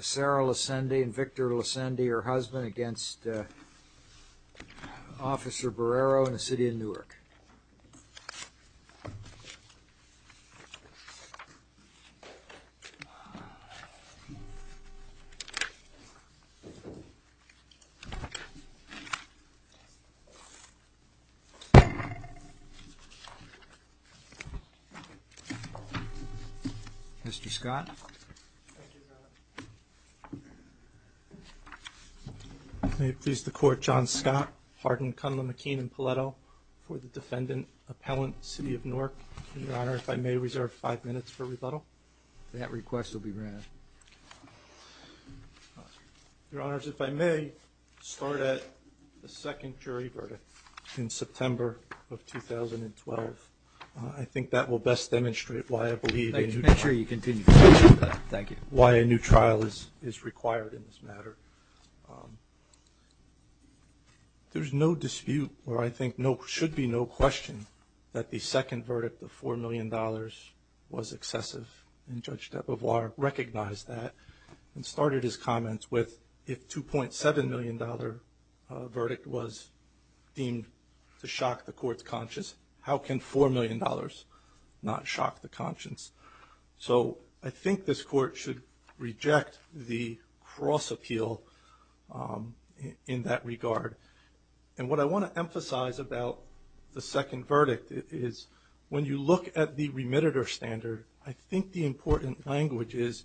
Sara Lesende v. Police Officer Arnold Borrero Mr. Scott. Thank you, Your Honor. May it please the Court, John Scott, Hardin, Cunliffe, McKean, and Paletto for the defendant, Appellant, City of Newark. Your Honor, if I may, reserve five minutes for rebuttal. That request will be granted. Your Honor, if I may, start at the second jury verdict in September of 2012. I think that will best demonstrate why I believe a new trial is required in this matter. There's no dispute, or I think should be no question, that the second verdict of $4 million was excessive, and Judge Debovoir recognized that and started his comments with if a $2.7 million verdict was deemed to shock the Court's conscience, how can $4 million not shock the conscience? So I think this Court should reject the cross-appeal in that regard. And what I want to emphasize about the second verdict is when you look at the remittitor standard, I think the important language is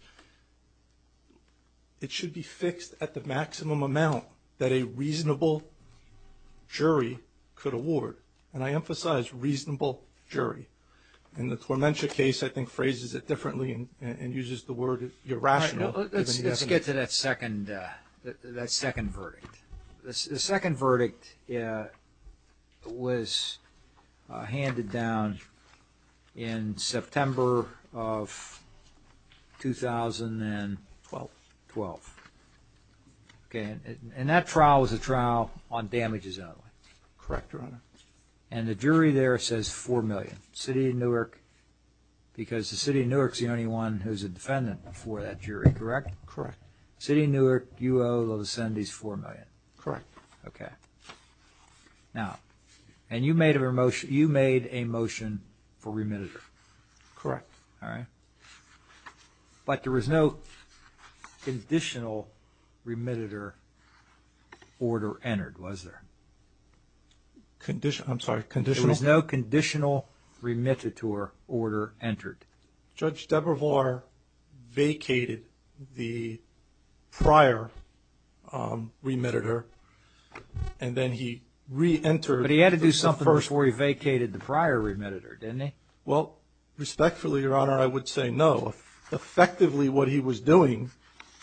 it should be fixed at the maximum amount that a reasonable jury could award. And I emphasize reasonable jury. And the Tormentia case, I think, phrases it differently and uses the word irrational. Let's get to that second verdict. The second verdict was handed down in September of 2012. And that trial was a trial on damages only. And the jury there says $4 million. City of Newark, because the City of Newark's the only one who's a defendant before that jury, correct? Correct. City of Newark, you owe the Lascendis $4 million. Correct. Okay. Now, and you made a motion for remittitor. Correct. All right. But there was no conditional remittitor order entered, was there? Conditional? I'm sorry. Conditional? There was no conditional remittitor order entered. Judge Debravar vacated the prior remittitor and then he reentered. But he had to do something before he vacated the prior remittitor, didn't he? Well, respectfully, Your Honor, I would say no. Effectively, what he was doing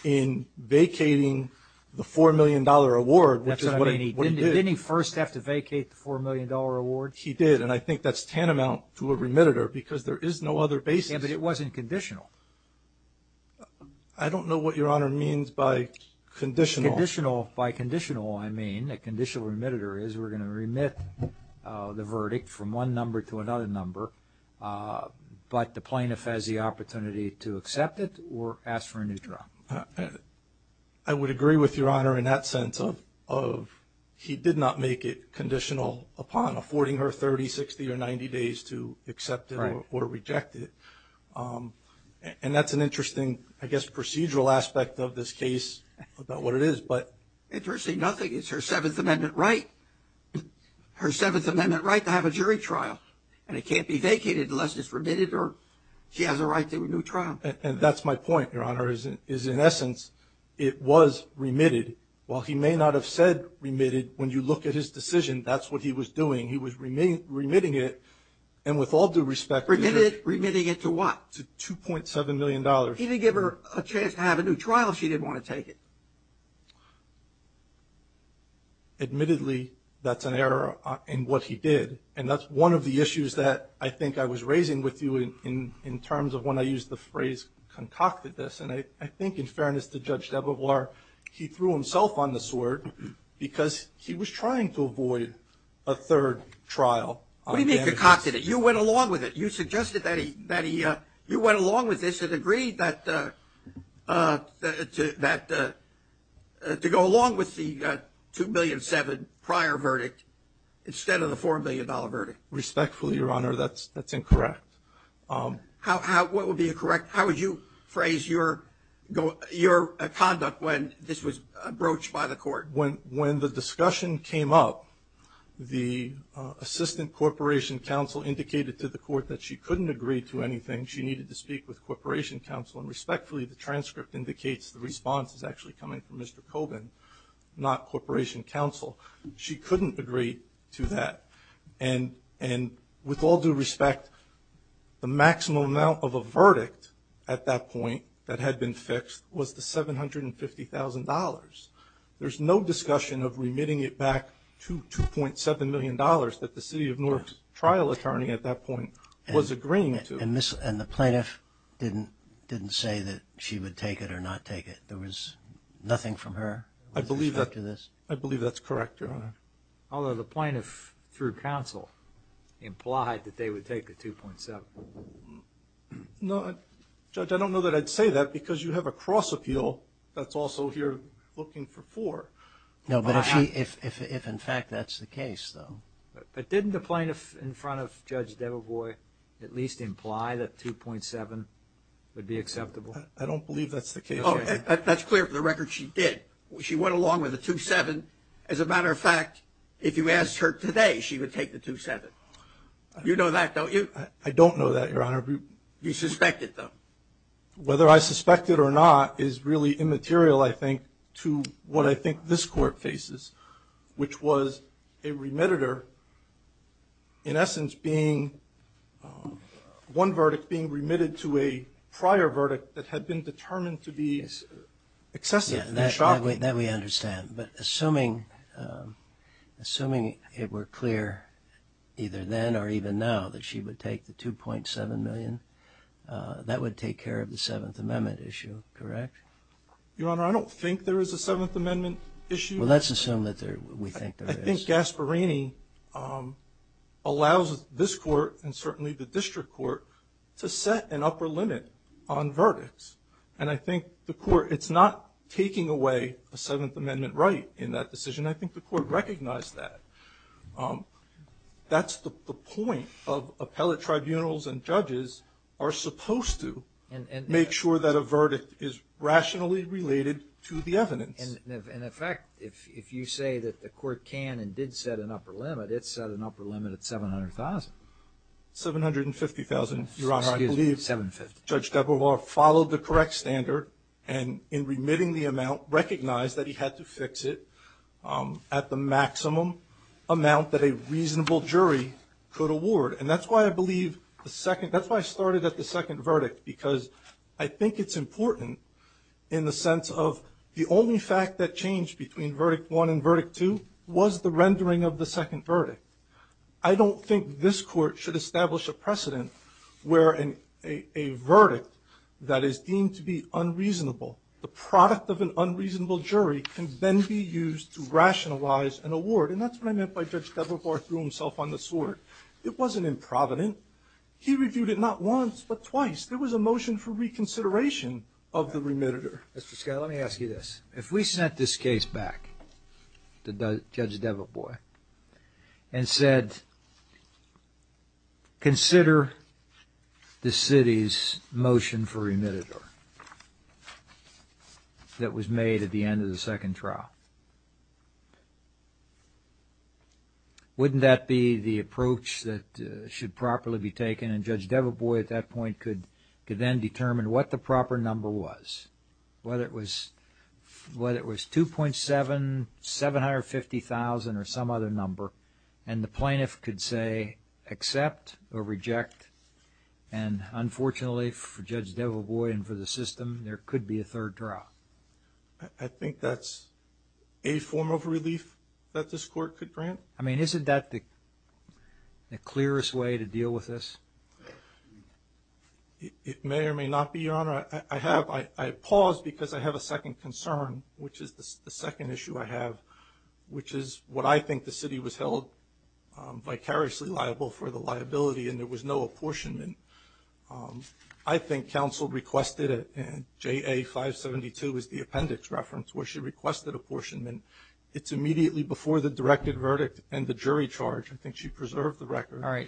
in vacating the $4 million award, which is what he did. Didn't he first have to vacate the $4 million award? He did. And I think that's tantamount to a remittitor because there is no other basis. Yeah, but it wasn't conditional. I don't know what Your Honor means by conditional. By conditional, I mean a conditional remittitor is we're going to remit the verdict from one number to another number, but the plaintiff has the opportunity to accept it or ask for a new trial. I would agree with Your Honor in that sense of he did not make it conditional upon affording her 30, 60, or 90 days to accept it or reject it. And that's an interesting, I guess, procedural aspect of this case about what it is. Interestingly, nothing. It's her Seventh Amendment right. Her Seventh Amendment right to have a jury trial. And it can't be vacated unless it's remitted or she has a right to a new trial. And that's my point, Your Honor, is in essence it was remitted. While he may not have said remitted, when you look at his decision, that's what he was doing. He was remitting it. And with all due respect. Remitted it. Remitting it to what? To $2.7 million. He didn't give her a chance to have a new trial if she didn't want to take it. Admittedly, that's an error in what he did. And that's one of the issues that I think I was raising with you in terms of when I used the phrase concocted this. And I think in fairness to Judge Debovoir, he threw himself on the sword because he was trying to avoid a third trial. What do you mean concocted it? You went along with it. You suggested that he went along with this and agreed to go along with the $2.7 million prior verdict instead of the $4 million verdict. Respectfully, Your Honor, that's incorrect. What would be incorrect? How would you phrase your conduct when this was broached by the court? When the discussion came up, the Assistant Corporation Counsel indicated to the court that she couldn't agree to anything. She needed to speak with Corporation Counsel. And respectfully, the transcript indicates the response is actually coming from Mr. Kobin, not Corporation Counsel. She couldn't agree to that. And with all due respect, the maximum amount of a verdict at that point that had been fixed was the $750,000. There's no discussion of remitting it back to $2.7 million that the city of Newark's trial attorney at that point was agreeing to. And the plaintiff didn't say that she would take it or not take it? There was nothing from her? I believe that's correct, Your Honor. Although the plaintiff, through counsel, implied that they would take the $2.7 million. No, Judge, I don't know that I'd say that because you have a cross appeal that's also here looking for four. No, but if in fact that's the case, though. But didn't the plaintiff in front of Judge Debevois at least imply that $2.7 would be acceptable? I don't believe that's the case. That's clear from the record she did. She went along with the $2.7. As a matter of fact, if you asked her today, she would take the $2.7. You know that, don't you? I don't know that, Your Honor. You suspected, though. Whether I suspected or not is really immaterial, I think, to what I think this Court faces, which was a remittitor in essence being one verdict being remitted to a prior verdict that had been determined to be excessive. That we understand. But assuming it were clear either then or even now that she would take the $2.7 million, that would take care of the Seventh Amendment issue, correct? Your Honor, I don't think there is a Seventh Amendment issue. Well, let's assume that we think there is. I think Gasparini allows this Court and certainly the District Court to set an upper limit on verdicts. And I think the Court, it's not taking away a Seventh Amendment right in that decision. I think the Court recognized that. That's the point of appellate tribunals and judges are supposed to make sure that a verdict is rationally related to the evidence. In effect, if you say that the Court can and did set an upper limit, it set an upper limit at $700,000. $750,000, Your Honor, I believe. Excuse me, $750,000. Judge Debovar followed the correct standard and in remitting the amount, recognized that he had to fix it at the maximum amount that a reasonable jury could award. And that's why I believe the second, that's why I started at the second verdict, because I think it's important in the sense of the only fact that changed between verdict one and verdict two was the rendering of the second verdict. I don't think this Court should establish a precedent where a verdict that is deemed to be unreasonable, the product of an unreasonable jury, can then be used to rationalize an award. And that's what I meant by Judge Debovar threw himself on the sword. It wasn't improvident. He reviewed it not once but twice. There was a motion for reconsideration of the remitter. Mr. Scott, let me ask you this. If we sent this case back to Judge Debovar and said, consider the city's motion for remitter that was made at the end of the second trial, wouldn't that be the approach that should properly be taken? And Judge Debovar at that point could then determine what the proper number was, whether it was 2.7, 750,000 or some other number, and the plaintiff could say accept or reject. And unfortunately for Judge Debovar and for the system, there could be a third trial. I think that's a form of relief that this Court could grant. I mean, isn't that the clearest way to deal with this? It may or may not be, Your Honor. I paused because I have a second concern, which is the second issue I have, which is what I think the city was held vicariously liable for the liability and there was no apportionment. I think counsel requested it, and JA572 is the appendix reference where she requested apportionment. It's immediately before the directed verdict and the jury charge. I think she preserved the record. All right.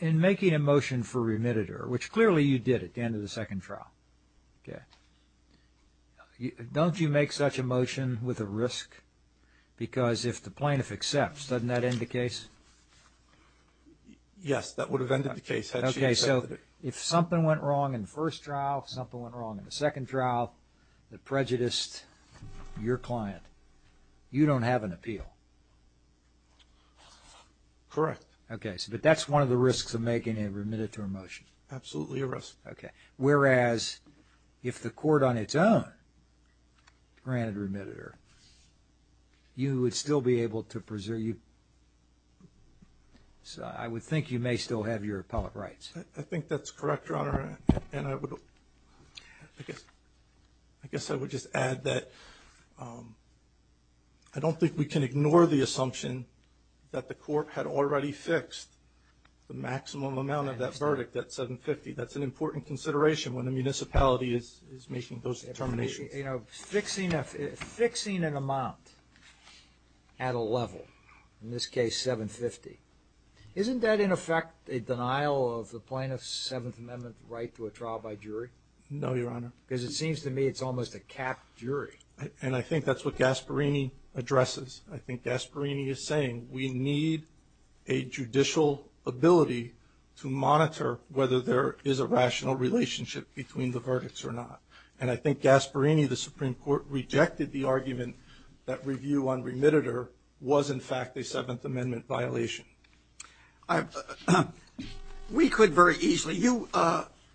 In making a motion for remitter, which clearly you did at the end of the second trial, don't you make such a motion with a risk? Because if the plaintiff accepts, doesn't that end the case? Yes, that would have ended the case had she accepted it. Okay, so if something went wrong in the first trial, something went wrong in the second trial that prejudiced your client, you don't have an appeal. Correct. Okay, but that's one of the risks of making a remitter motion. Absolutely a risk. Okay, whereas if the court on its own granted remitter, you would still be able to preserve. So I would think you may still have your appellate rights. I think that's correct, Your Honor, and I guess I would just add that I don't think we can ignore the assumption that the court had already fixed the maximum amount of that verdict at $750,000. That's an important consideration when a municipality is making those determinations. Fixing an amount at a level, in this case $750,000, isn't that in effect a denial of the plaintiff's Seventh Amendment right to a trial by jury? No, Your Honor. Because it seems to me it's almost a capped jury. And I think that's what Gasparini addresses. I think Gasparini is saying we need a judicial ability to monitor whether there is a rational relationship between the verdicts or not. And I think Gasparini, the Supreme Court, rejected the argument that review on remitter was, in fact, a Seventh Amendment violation. We could very easily. You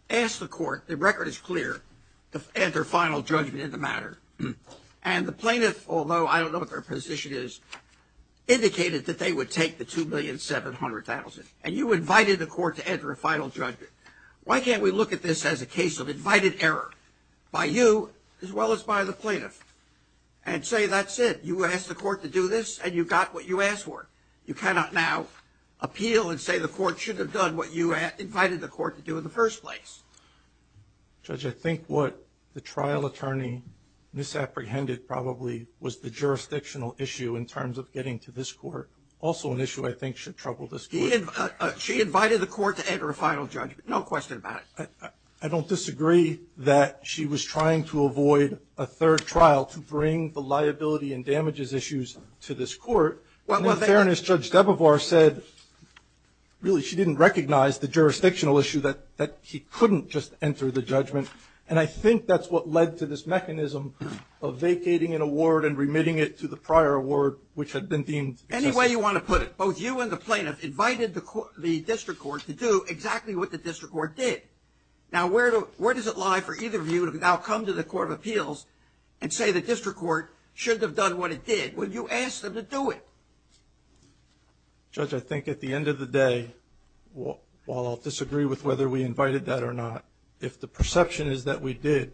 asked the court, the record is clear, to enter final judgment in the matter. And the plaintiff, although I don't know what their position is, indicated that they would take the $2,700,000. And you invited the court to enter a final judgment. Why can't we look at this as a case of invited error by you as well as by the plaintiff and say that's it. You asked the court to do this and you got what you asked for. You cannot now appeal and say the court should have done what you invited the court to do in the first place. Judge, I think what the trial attorney misapprehended probably was the jurisdictional issue in terms of getting to this court. Also an issue I think should trouble this court. She invited the court to enter a final judgment. No question about it. I don't disagree that she was trying to avoid a third trial to bring the liability and damages issues to this court. In fairness, Judge Debovoir said really she didn't recognize the jurisdictional issue that he couldn't just enter the judgment. And I think that's what led to this mechanism of vacating an award and remitting it to the prior award which had been deemed excessive. Any way you want to put it, both you and the plaintiff invited the district court to do exactly what the district court did. Now, where does it lie for either of you to now come to the court of appeals and say the district court should have done what it did? Well, you asked them to do it. Judge, I think at the end of the day, while I'll disagree with whether we invited that or not, if the perception is that we did,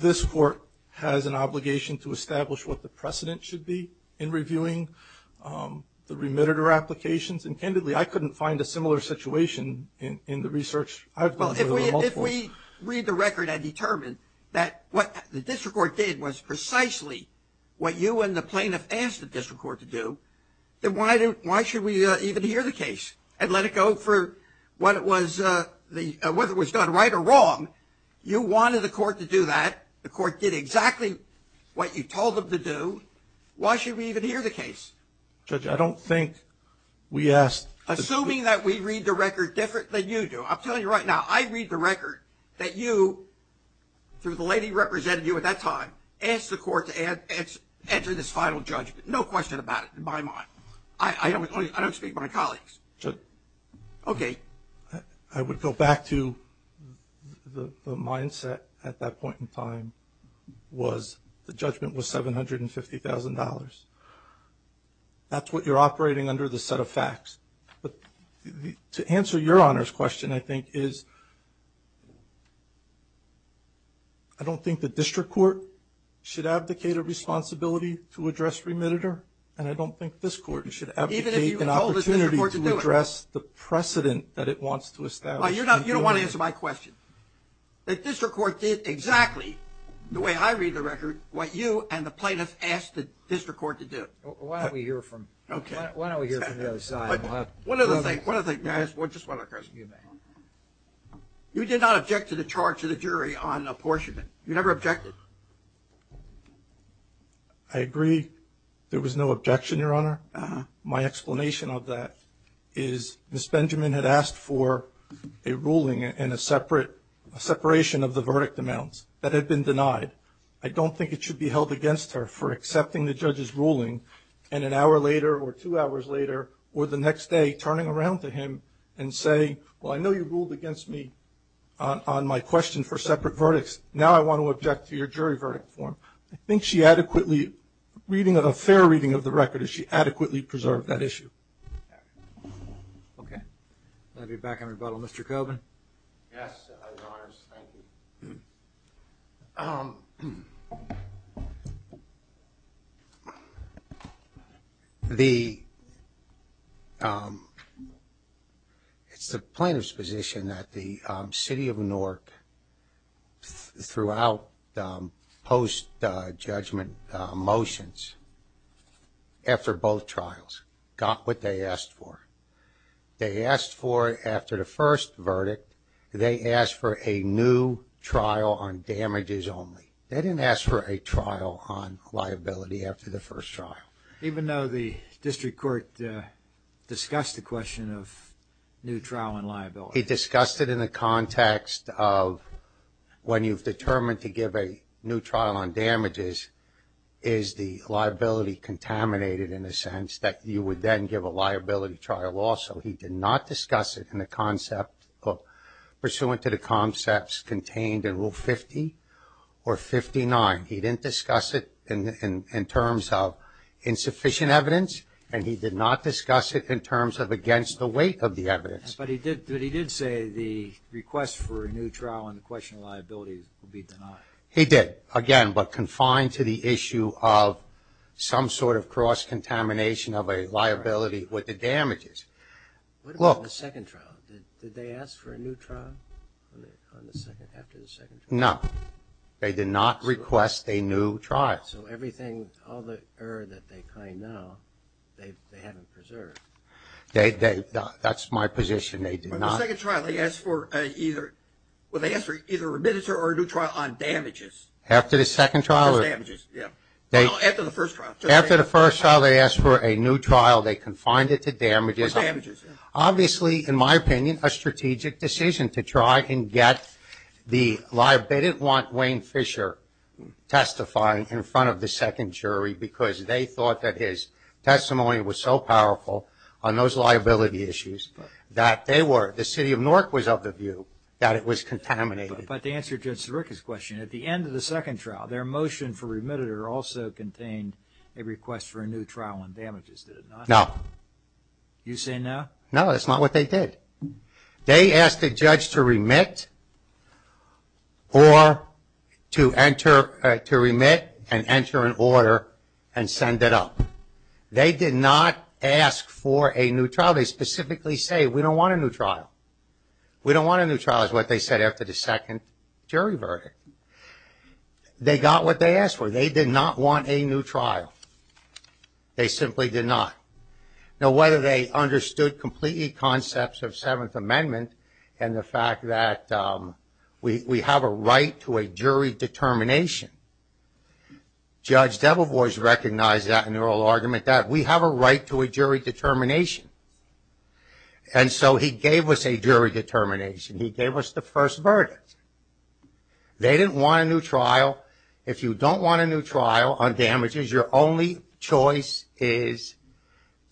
this court has an obligation to establish what the precedent should be in reviewing the remitter applications. And, candidly, I couldn't find a similar situation in the research I've done. Well, if we read the record and determine that what the district court did was precisely what you and the plaintiff asked the district court to do, then why should we even hear the case and let it go for whether it was done right or wrong? You wanted the court to do that. The court did exactly what you told them to do. Why should we even hear the case? Judge, I don't think we asked. Assuming that we read the record different than you do, I'm telling you right now, I read the record that you, through the lady representing you at that time, asked the court to enter this final judgment. No question about it in my mind. I don't speak for my colleagues. Judge. Okay. I would go back to the mindset at that point in time was the judgment was $750,000. That's what you're operating under the set of facts. But to answer your Honor's question, I think, is I don't think the district court should abdicate a responsibility to address remitter, and I don't think this court should abdicate an opportunity to address the precedent that it wants to establish. You don't want to answer my question. The district court did exactly, the way I read the record, what you and the plaintiffs asked the district court to do. Why don't we hear from the other side? One other thing. Just one other question. You may. You did not object to the charge of the jury on apportionment. You never objected. I agree there was no objection, Your Honor. My explanation of that is Ms. Benjamin had asked for a ruling and a separation of the verdict amounts that had been denied. I don't think it should be held against her for accepting the judge's ruling and an hour later or two hours later or the next day turning around to him and saying, well, I know you ruled against me on my question for separate verdicts. Now I want to object to your jury verdict form. I think she adequately, reading a fair reading of the record, she adequately preserved that issue. Okay. I'll be back on rebuttal. Mr. Coburn? Yes, Your Honors. Thank you. Thank you. It's the plaintiff's position that the city of Newark, throughout post-judgment motions after both trials, got what they asked for. They asked for, after the first verdict, they asked for a new trial on damages only. They didn't ask for a trial on liability after the first trial. Even though the district court discussed the question of new trial on liability? It discussed it in the context of when you've determined to give a new trial on damages, is the liability contaminated in the sense that you would then give a liability trial also? He did not discuss it in the concept of, pursuant to the concepts contained in Rule 50 or 59. He didn't discuss it in terms of insufficient evidence, and he did not discuss it in terms of against the weight of the evidence. But he did say the request for a new trial on the question of liability would be denied. He did, again, but confined to the issue of some sort of cross-contamination of a liability with the damages. What about the second trial? Did they ask for a new trial after the second trial? No. They did not request a new trial. So everything, all the error that they claim now, they haven't preserved. That's my position. They did not. After the second trial, they asked for either a remittance or a new trial on damages. After the second trial? On damages, yeah. After the first trial. After the first trial, they asked for a new trial. They confined it to damages. Obviously, in my opinion, a strategic decision to try and get the liability. They didn't want Wayne Fisher testifying in front of the second jury because they thought that his testimony was so powerful on those liability issues that they were, the city of Newark was of the view that it was contaminated. But to answer Judge Sirica's question, at the end of the second trial, their motion for remitted also contained a request for a new trial on damages, did it not? No. You say no? No, that's not what they did. They asked the judge to remit or to enter, to remit and enter an order and send it up. They did not ask for a new trial. They specifically say, we don't want a new trial. We don't want a new trial is what they said after the second jury verdict. They got what they asked for. They did not want a new trial. They simply did not. Now, whether they understood completely concepts of Seventh Amendment and the fact that we have a right to a jury determination, Judge Debevoise recognized that in their whole argument, that we have a right to a jury determination. And so he gave us a jury determination. He gave us the first verdict. They didn't want a new trial. If you don't want a new trial on damages, your only choice is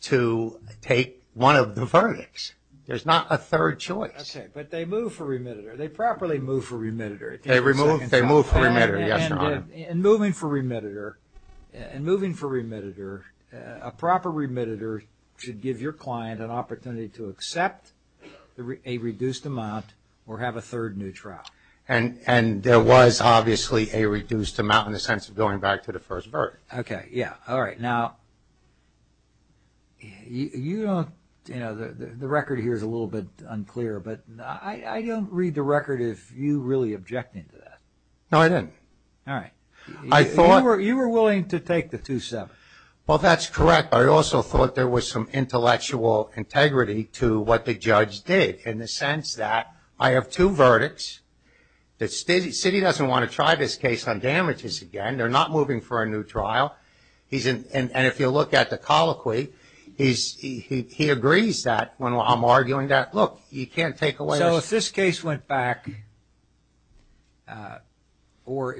to take one of the verdicts. There's not a third choice. Okay, but they moved for remitted. They properly moved for remitted. They moved for remitted, yes, Your Honor. In moving for remitted, a proper remitted should give your client an opportunity to accept a reduced amount or have a third new trial. And there was obviously a reduced amount in the sense of going back to the first verdict. Okay, yeah, all right. Now, you don't, you know, the record here is a little bit unclear, but I don't read the record as you really objecting to that. No, I didn't. All right. You were willing to take the two-seven. Well, that's correct, but I also thought there was some intellectual integrity to what the judge did in the sense that I have two verdicts. The city doesn't want to try this case on damages again. They're not moving for a new trial. And if you look at the colloquy, he agrees that when I'm arguing that, look, you can't take away. So if this case went back, or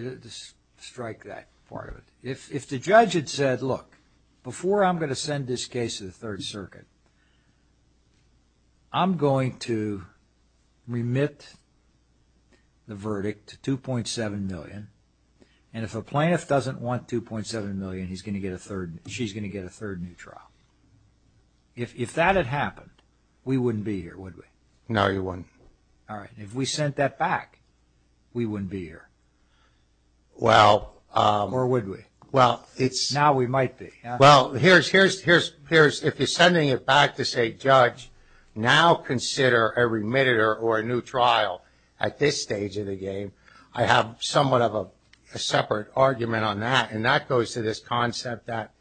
strike that part of it, if the judge had said, look, before I'm going to send this case to the Third Circuit, I'm going to remit the verdict to $2.7 million, and if a plaintiff doesn't want $2.7 million, he's going to get a third, she's going to get a third new trial. If that had happened, we wouldn't be here, would we? No, you wouldn't. All right. If we sent that back, we wouldn't be here. Well... Or would we? Well, it's... Now we might be. Well, here's, if you're sending it back to say, judge, now consider a remitter or a new trial at this stage of the game, I have somewhat of a separate argument on that, and that goes to this concept that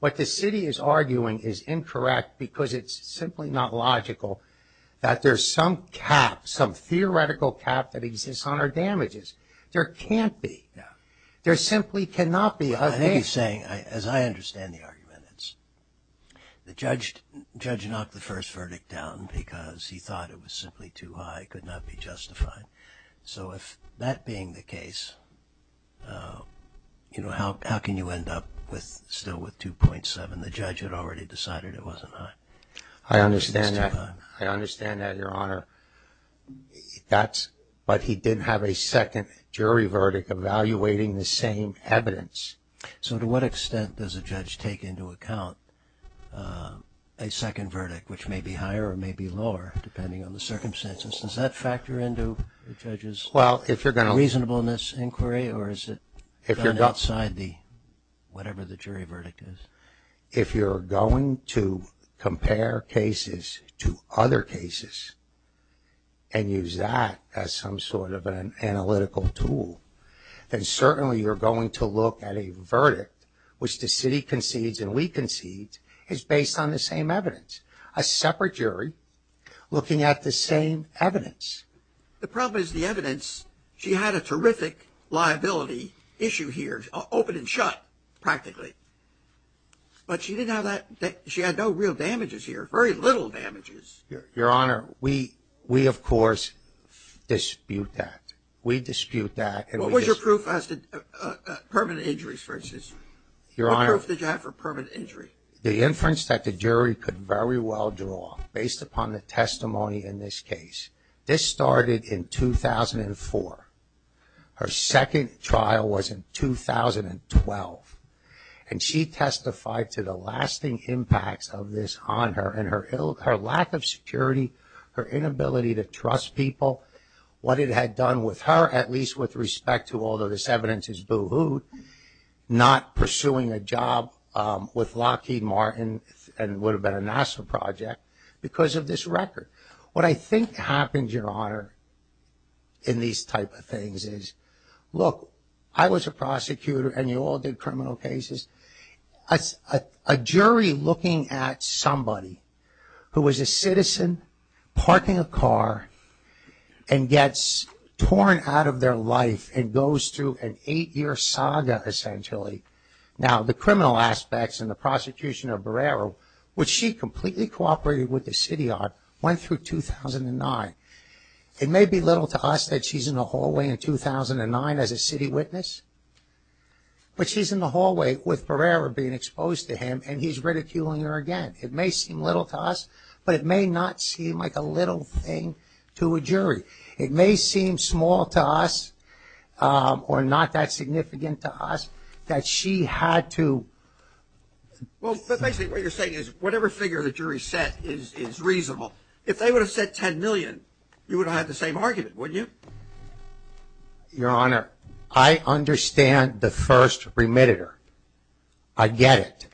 what the city is arguing is incorrect because it's simply not logical that there's some cap, some theoretical cap that exists on our damages. There can't be. There simply cannot be. I think he's saying, as I understand the argument, it's the judge knocked the first verdict down because he thought it was simply too high, could not be justified. So if that being the case, you know, how can you end up still with $2.7? The judge had already decided it wasn't high. I understand that, Your Honor. That's... But he didn't have a second jury verdict evaluating the same evidence. So to what extent does a judge take into account a second verdict, which may be higher or may be lower, depending on the circumstances? Does that factor into the judge's... Well, if you're going to... ...reasonableness inquiry, or is it... If you're going... ...outside the, whatever the jury verdict is? If you're going to compare cases to other cases and use that as some sort of an analytical tool, then certainly you're going to look at a verdict, which the city concedes and we concede, is based on the same evidence. A separate jury looking at the same evidence. The problem is the evidence, she had a terrific liability issue here, open and shut, practically. But she didn't have that... She had no real damages here, very little damages. Your Honor, we, of course, dispute that. We dispute that. What was your proof as to permanent injuries, for instance? Your Honor... What proof did you have for permanent injury? The inference that the jury could very well draw, based upon the testimony in this case. This started in 2004. Her second trial was in 2012. And she testified to the lasting impacts of this on her and her lack of security, her inability to trust people, what it had done with her, at least with respect to, although this evidence is boo-hooed, not pursuing a job with Lockheed Martin, and would have been a NASA project, because of this record. What I think happened, Your Honor, in these type of things is, look, I was a prosecutor and you all did criminal cases. A jury looking at somebody who was a citizen parking a car and gets torn out of their life and goes through an eight-year saga, essentially. Now, the criminal aspects and the prosecution of Barrero, which she completely cooperated with the city on, went through 2009. It may be little to us that she's in the hallway in 2009 as a city witness, but she's in the hallway with Barrero being exposed to him and he's ridiculing her again. It may seem little to us, but it may not seem like a little thing to a jury. It may seem small to us or not that significant to us that she had to... Well, but basically what you're saying is whatever figure the jury set is reasonable. If they would have said $10 million, you would have had the same argument, wouldn't you? Your Honor, I understand the first remitter. I get it.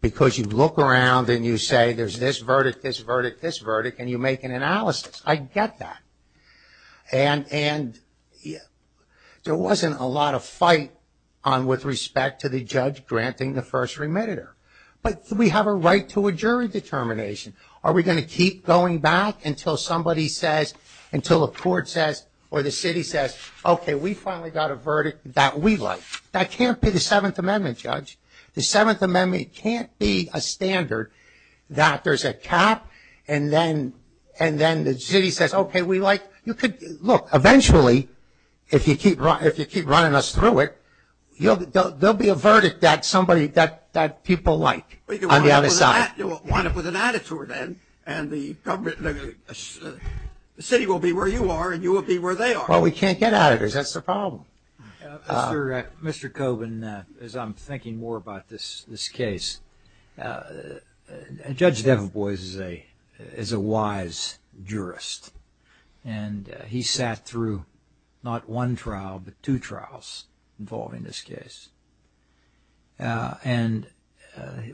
Because you look around and you say there's this verdict, this verdict, this verdict, and you make an analysis. I get that. And there wasn't a lot of fight with respect to the judge granting the first remitter. But we have a right to a jury determination. Are we going to keep going back until somebody says, until the court says or the city says, okay, we finally got a verdict that we like? That can't be the Seventh Amendment, Judge. The Seventh Amendment can't be a standard that there's a cap and then the city says, okay, we like... Look, eventually, if you keep running us through it, there will be a verdict that people like on the other side. You'll wind up with an attitude then and the city will be where you are and you will be where they are. Well, we can't get at it. That's the problem. Mr. Coben, as I'm thinking more about this case, Judge Deveboise is a wise jurist. And he sat through not one trial but two trials involving this case. And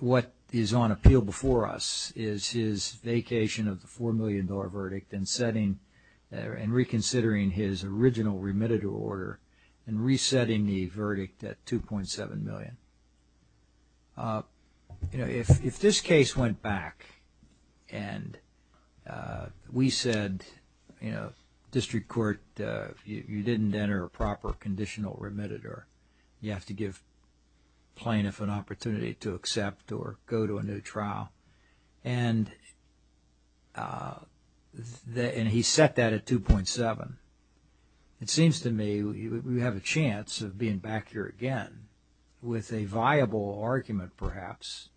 what is on appeal before us is his vacation of the $4 million verdict and setting and reconsidering his original remitted order and resetting the verdict at $2.7 million. If this case went back and we said, District Court, you didn't enter a proper conditional remitted or you have to give plaintiff an opportunity to accept or go to a new trial and he set that at $2.7 million, it seems to me we have a chance of being back here again with a viable argument perhaps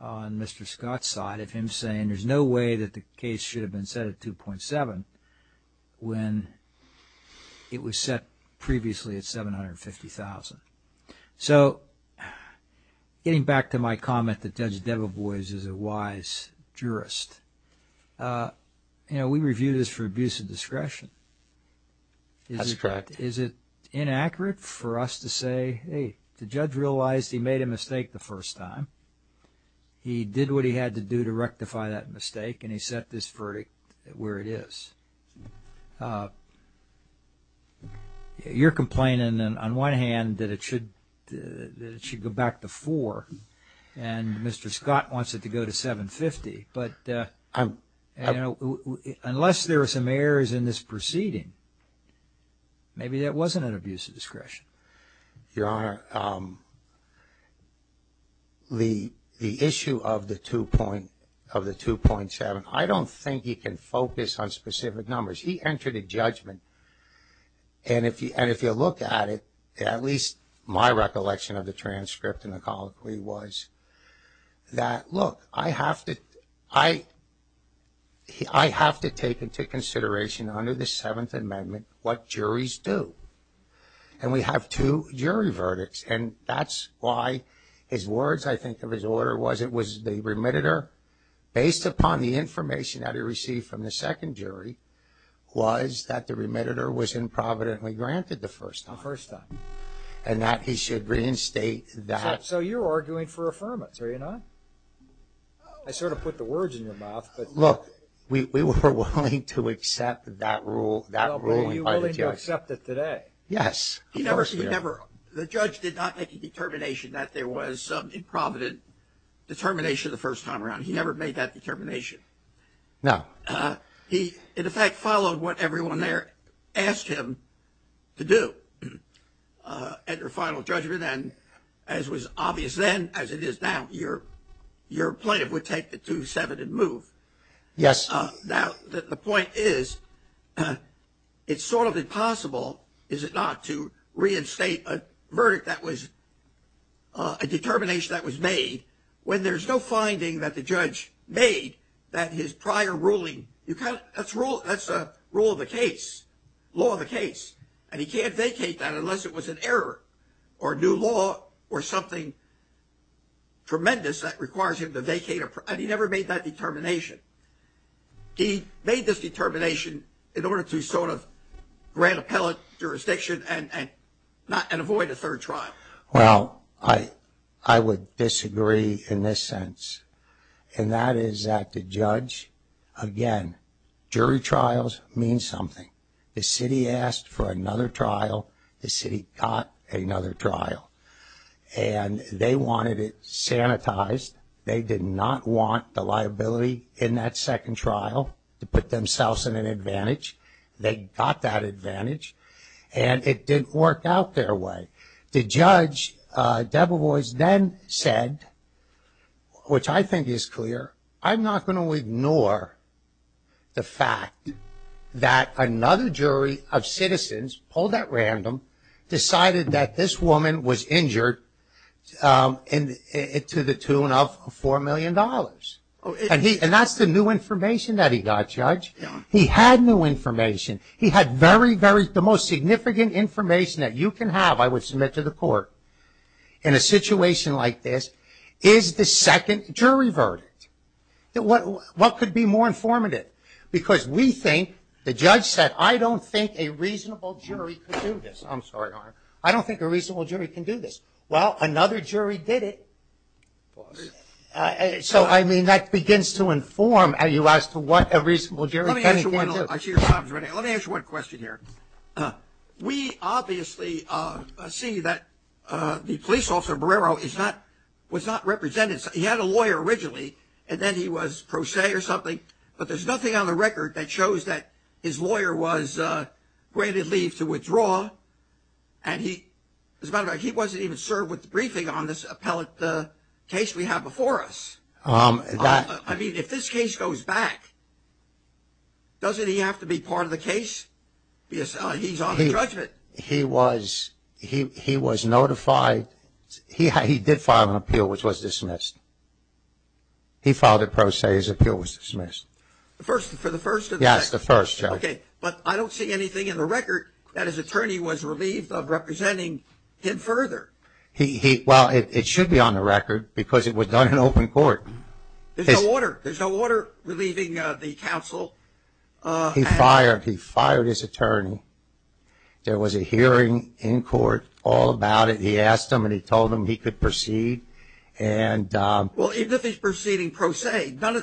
on Mr. Scott's side of him saying there's no way that the case should have been set at $2.7 million when it was set previously at $750,000. So getting back to my comment that Judge Deveboise is a wise jurist, we review this for abuse of discretion. That's correct. Is it inaccurate for us to say, hey, the judge realized he made a mistake the first time. He did what he had to do to rectify that mistake and he set this verdict where it is. You're complaining on one hand that it should go back to $4,000 and Mr. Scott wants it to go to $750,000, but unless there are some errors in this proceeding, maybe that wasn't an abuse of discretion. Your Honor, the issue of the $2.7 million, I don't think he can focus on specific numbers. He entered a judgment, and if you look at it, at least my recollection of the transcript and the colloquy was that, look, I have to take into consideration under the Seventh Amendment what juries do, and we have two jury verdicts, and that's why his words, I think, of his order, it was the remitter, based upon the information that he received from the second jury, was that the remitter was improvidently granted the first time. The first time. And that he should reinstate that. So you're arguing for affirmance, are you not? I sort of put the words in your mouth. Look, we were willing to accept that rule. Well, were you willing to accept it today? Yes. The judge did not make a determination that there was improvident determination the first time around. He never made that determination. No. He, in effect, followed what everyone there asked him to do at their final judgment, and as was obvious then, as it is now, your plaintiff would take the $2.7 and move. Yes. Now, the point is, it's sort of impossible, is it not, to reinstate a verdict that was a determination that was made when there's no finding that the judge made that his prior ruling, that's rule of the case, law of the case, and he can't vacate that unless it was an error or new law or something tremendous that requires him to vacate, and he never made that determination. He made this determination in order to sort of grant appellate jurisdiction and avoid a third trial. Well, I would disagree in this sense, and that is that the judge, again, jury trials mean something. The city asked for another trial. The city got another trial, and they wanted it sanitized. They did not want the liability in that second trial to put themselves in an advantage. They got that advantage, and it didn't work out their way. The judge, Debevoise, then said, which I think is clear, I'm not going to ignore the fact that another jury of citizens, polled at random, decided that this woman was injured to the tune of $4 million, and that's the new information that he got, Judge. He had new information. He had very, very, the most significant information that you can have, I would submit to the court, in a situation like this is the second jury verdict. What could be more informative? Because we think, the judge said, I don't think a reasonable jury could do this. I'm sorry. I don't think a reasonable jury can do this. Well, another jury did it. So, I mean, that begins to inform you as to what a reasonable jury can and can't do. Let me ask you one question here. We obviously see that the police officer, Barrero, was not represented. He had a lawyer originally, and then he was pro se or something, but there's nothing on the record that shows that his lawyer was granted leave to withdraw, and he, as a matter of fact, he wasn't even served with the briefing on this appellate case we have before us. I mean, if this case goes back, doesn't he have to be part of the case? He's on the judgment. He was notified. He did file an appeal, which was dismissed. He filed a pro se. His appeal was dismissed. For the first or the second? Yes, the first, Joe. Okay. But I don't see anything in the record that his attorney was relieved of representing him further. Well, it should be on the record because it was done in open court. There's no order. There's no order relieving the counsel. He fired. He fired his attorney. There was a hearing in court all about it. He asked him and he told him he could proceed. Well, even if he's proceeding pro se, he probably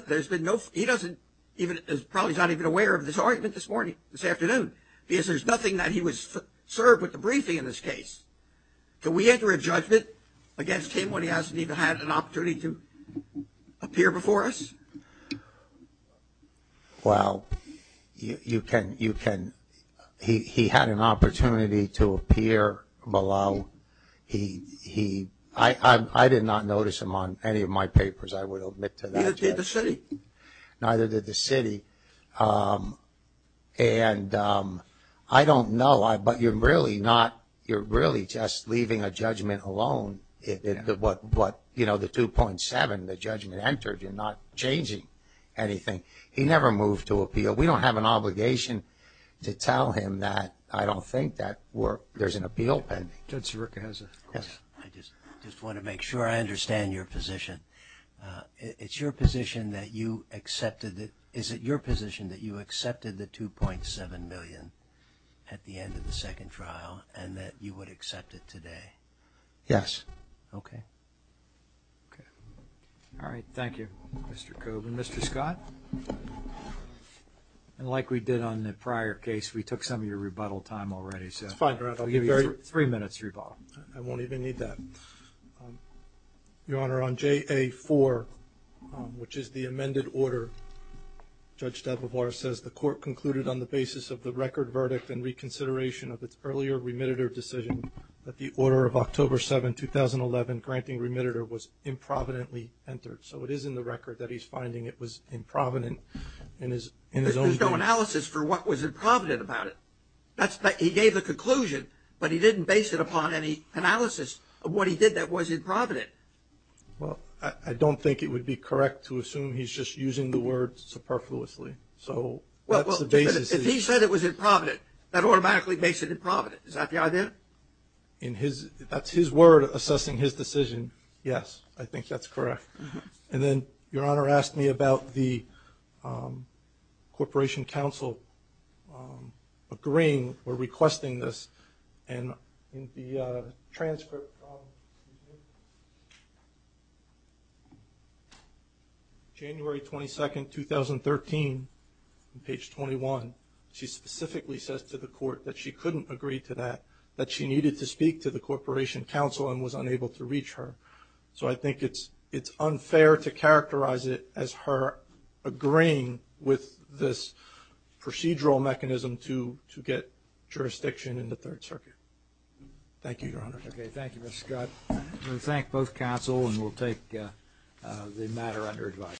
is not even aware of this argument this morning, this afternoon, because there's nothing that he was served with the briefing in this case. Can we enter a judgment against him when he hasn't even had an opportunity to appear before us? Well, you can. He had an opportunity to appear below. I did not notice him on any of my papers, I would admit to that. Neither did the city. Neither did the city. And I don't know, but you're really just leaving a judgment alone. But, you know, the 2.7, the judgment entered, you're not changing anything. He never moved to appeal. We don't have an obligation to tell him that. I don't think that worked. There's an appeal pending. Judge Sirica has a question. Yes. I just want to make sure I understand your position. Is it your position that you accepted the 2.7 million at the end of the second trial and that you would accept it today? Yes. Okay. Okay. All right. Thank you, Mr. Coburn. Mr. Scott? And like we did on the prior case, we took some of your rebuttal time already. It's fine, Your Honor. I'll give you three minutes to rebuttal. I won't even need that. Your Honor, on JA4, which is the amended order, Judge Dababwar says the court concluded on the basis of the record verdict and reconsideration of its earlier remittitor decision that the order of October 7, 2011, granting remittitor, was improvidently entered. So it is in the record that he's finding it was improvident in his own view. There's no analysis for what was improvident about it. He gave the conclusion, but he didn't base it upon any analysis of what he did that was improvident. Well, I don't think it would be correct to assume he's just using the word superfluously. So that's the basis. If he said it was improvident, that automatically makes it improvident. Is that the idea? That's his word assessing his decision. Yes, I think that's correct. And then Your Honor asked me about the Corporation Counsel agreeing or requesting this. And in the transcript, January 22, 2013, on page 21, she specifically says to the court that she couldn't agree to that, that she needed to speak to the Corporation Counsel and was unable to reach her. So I think it's unfair to characterize it as her agreeing with this procedural mechanism to get jurisdiction in the Third Circuit. Thank you, Your Honor. Okay, thank you, Mr. Scott. We thank both counsel, and we'll take the matter under advice.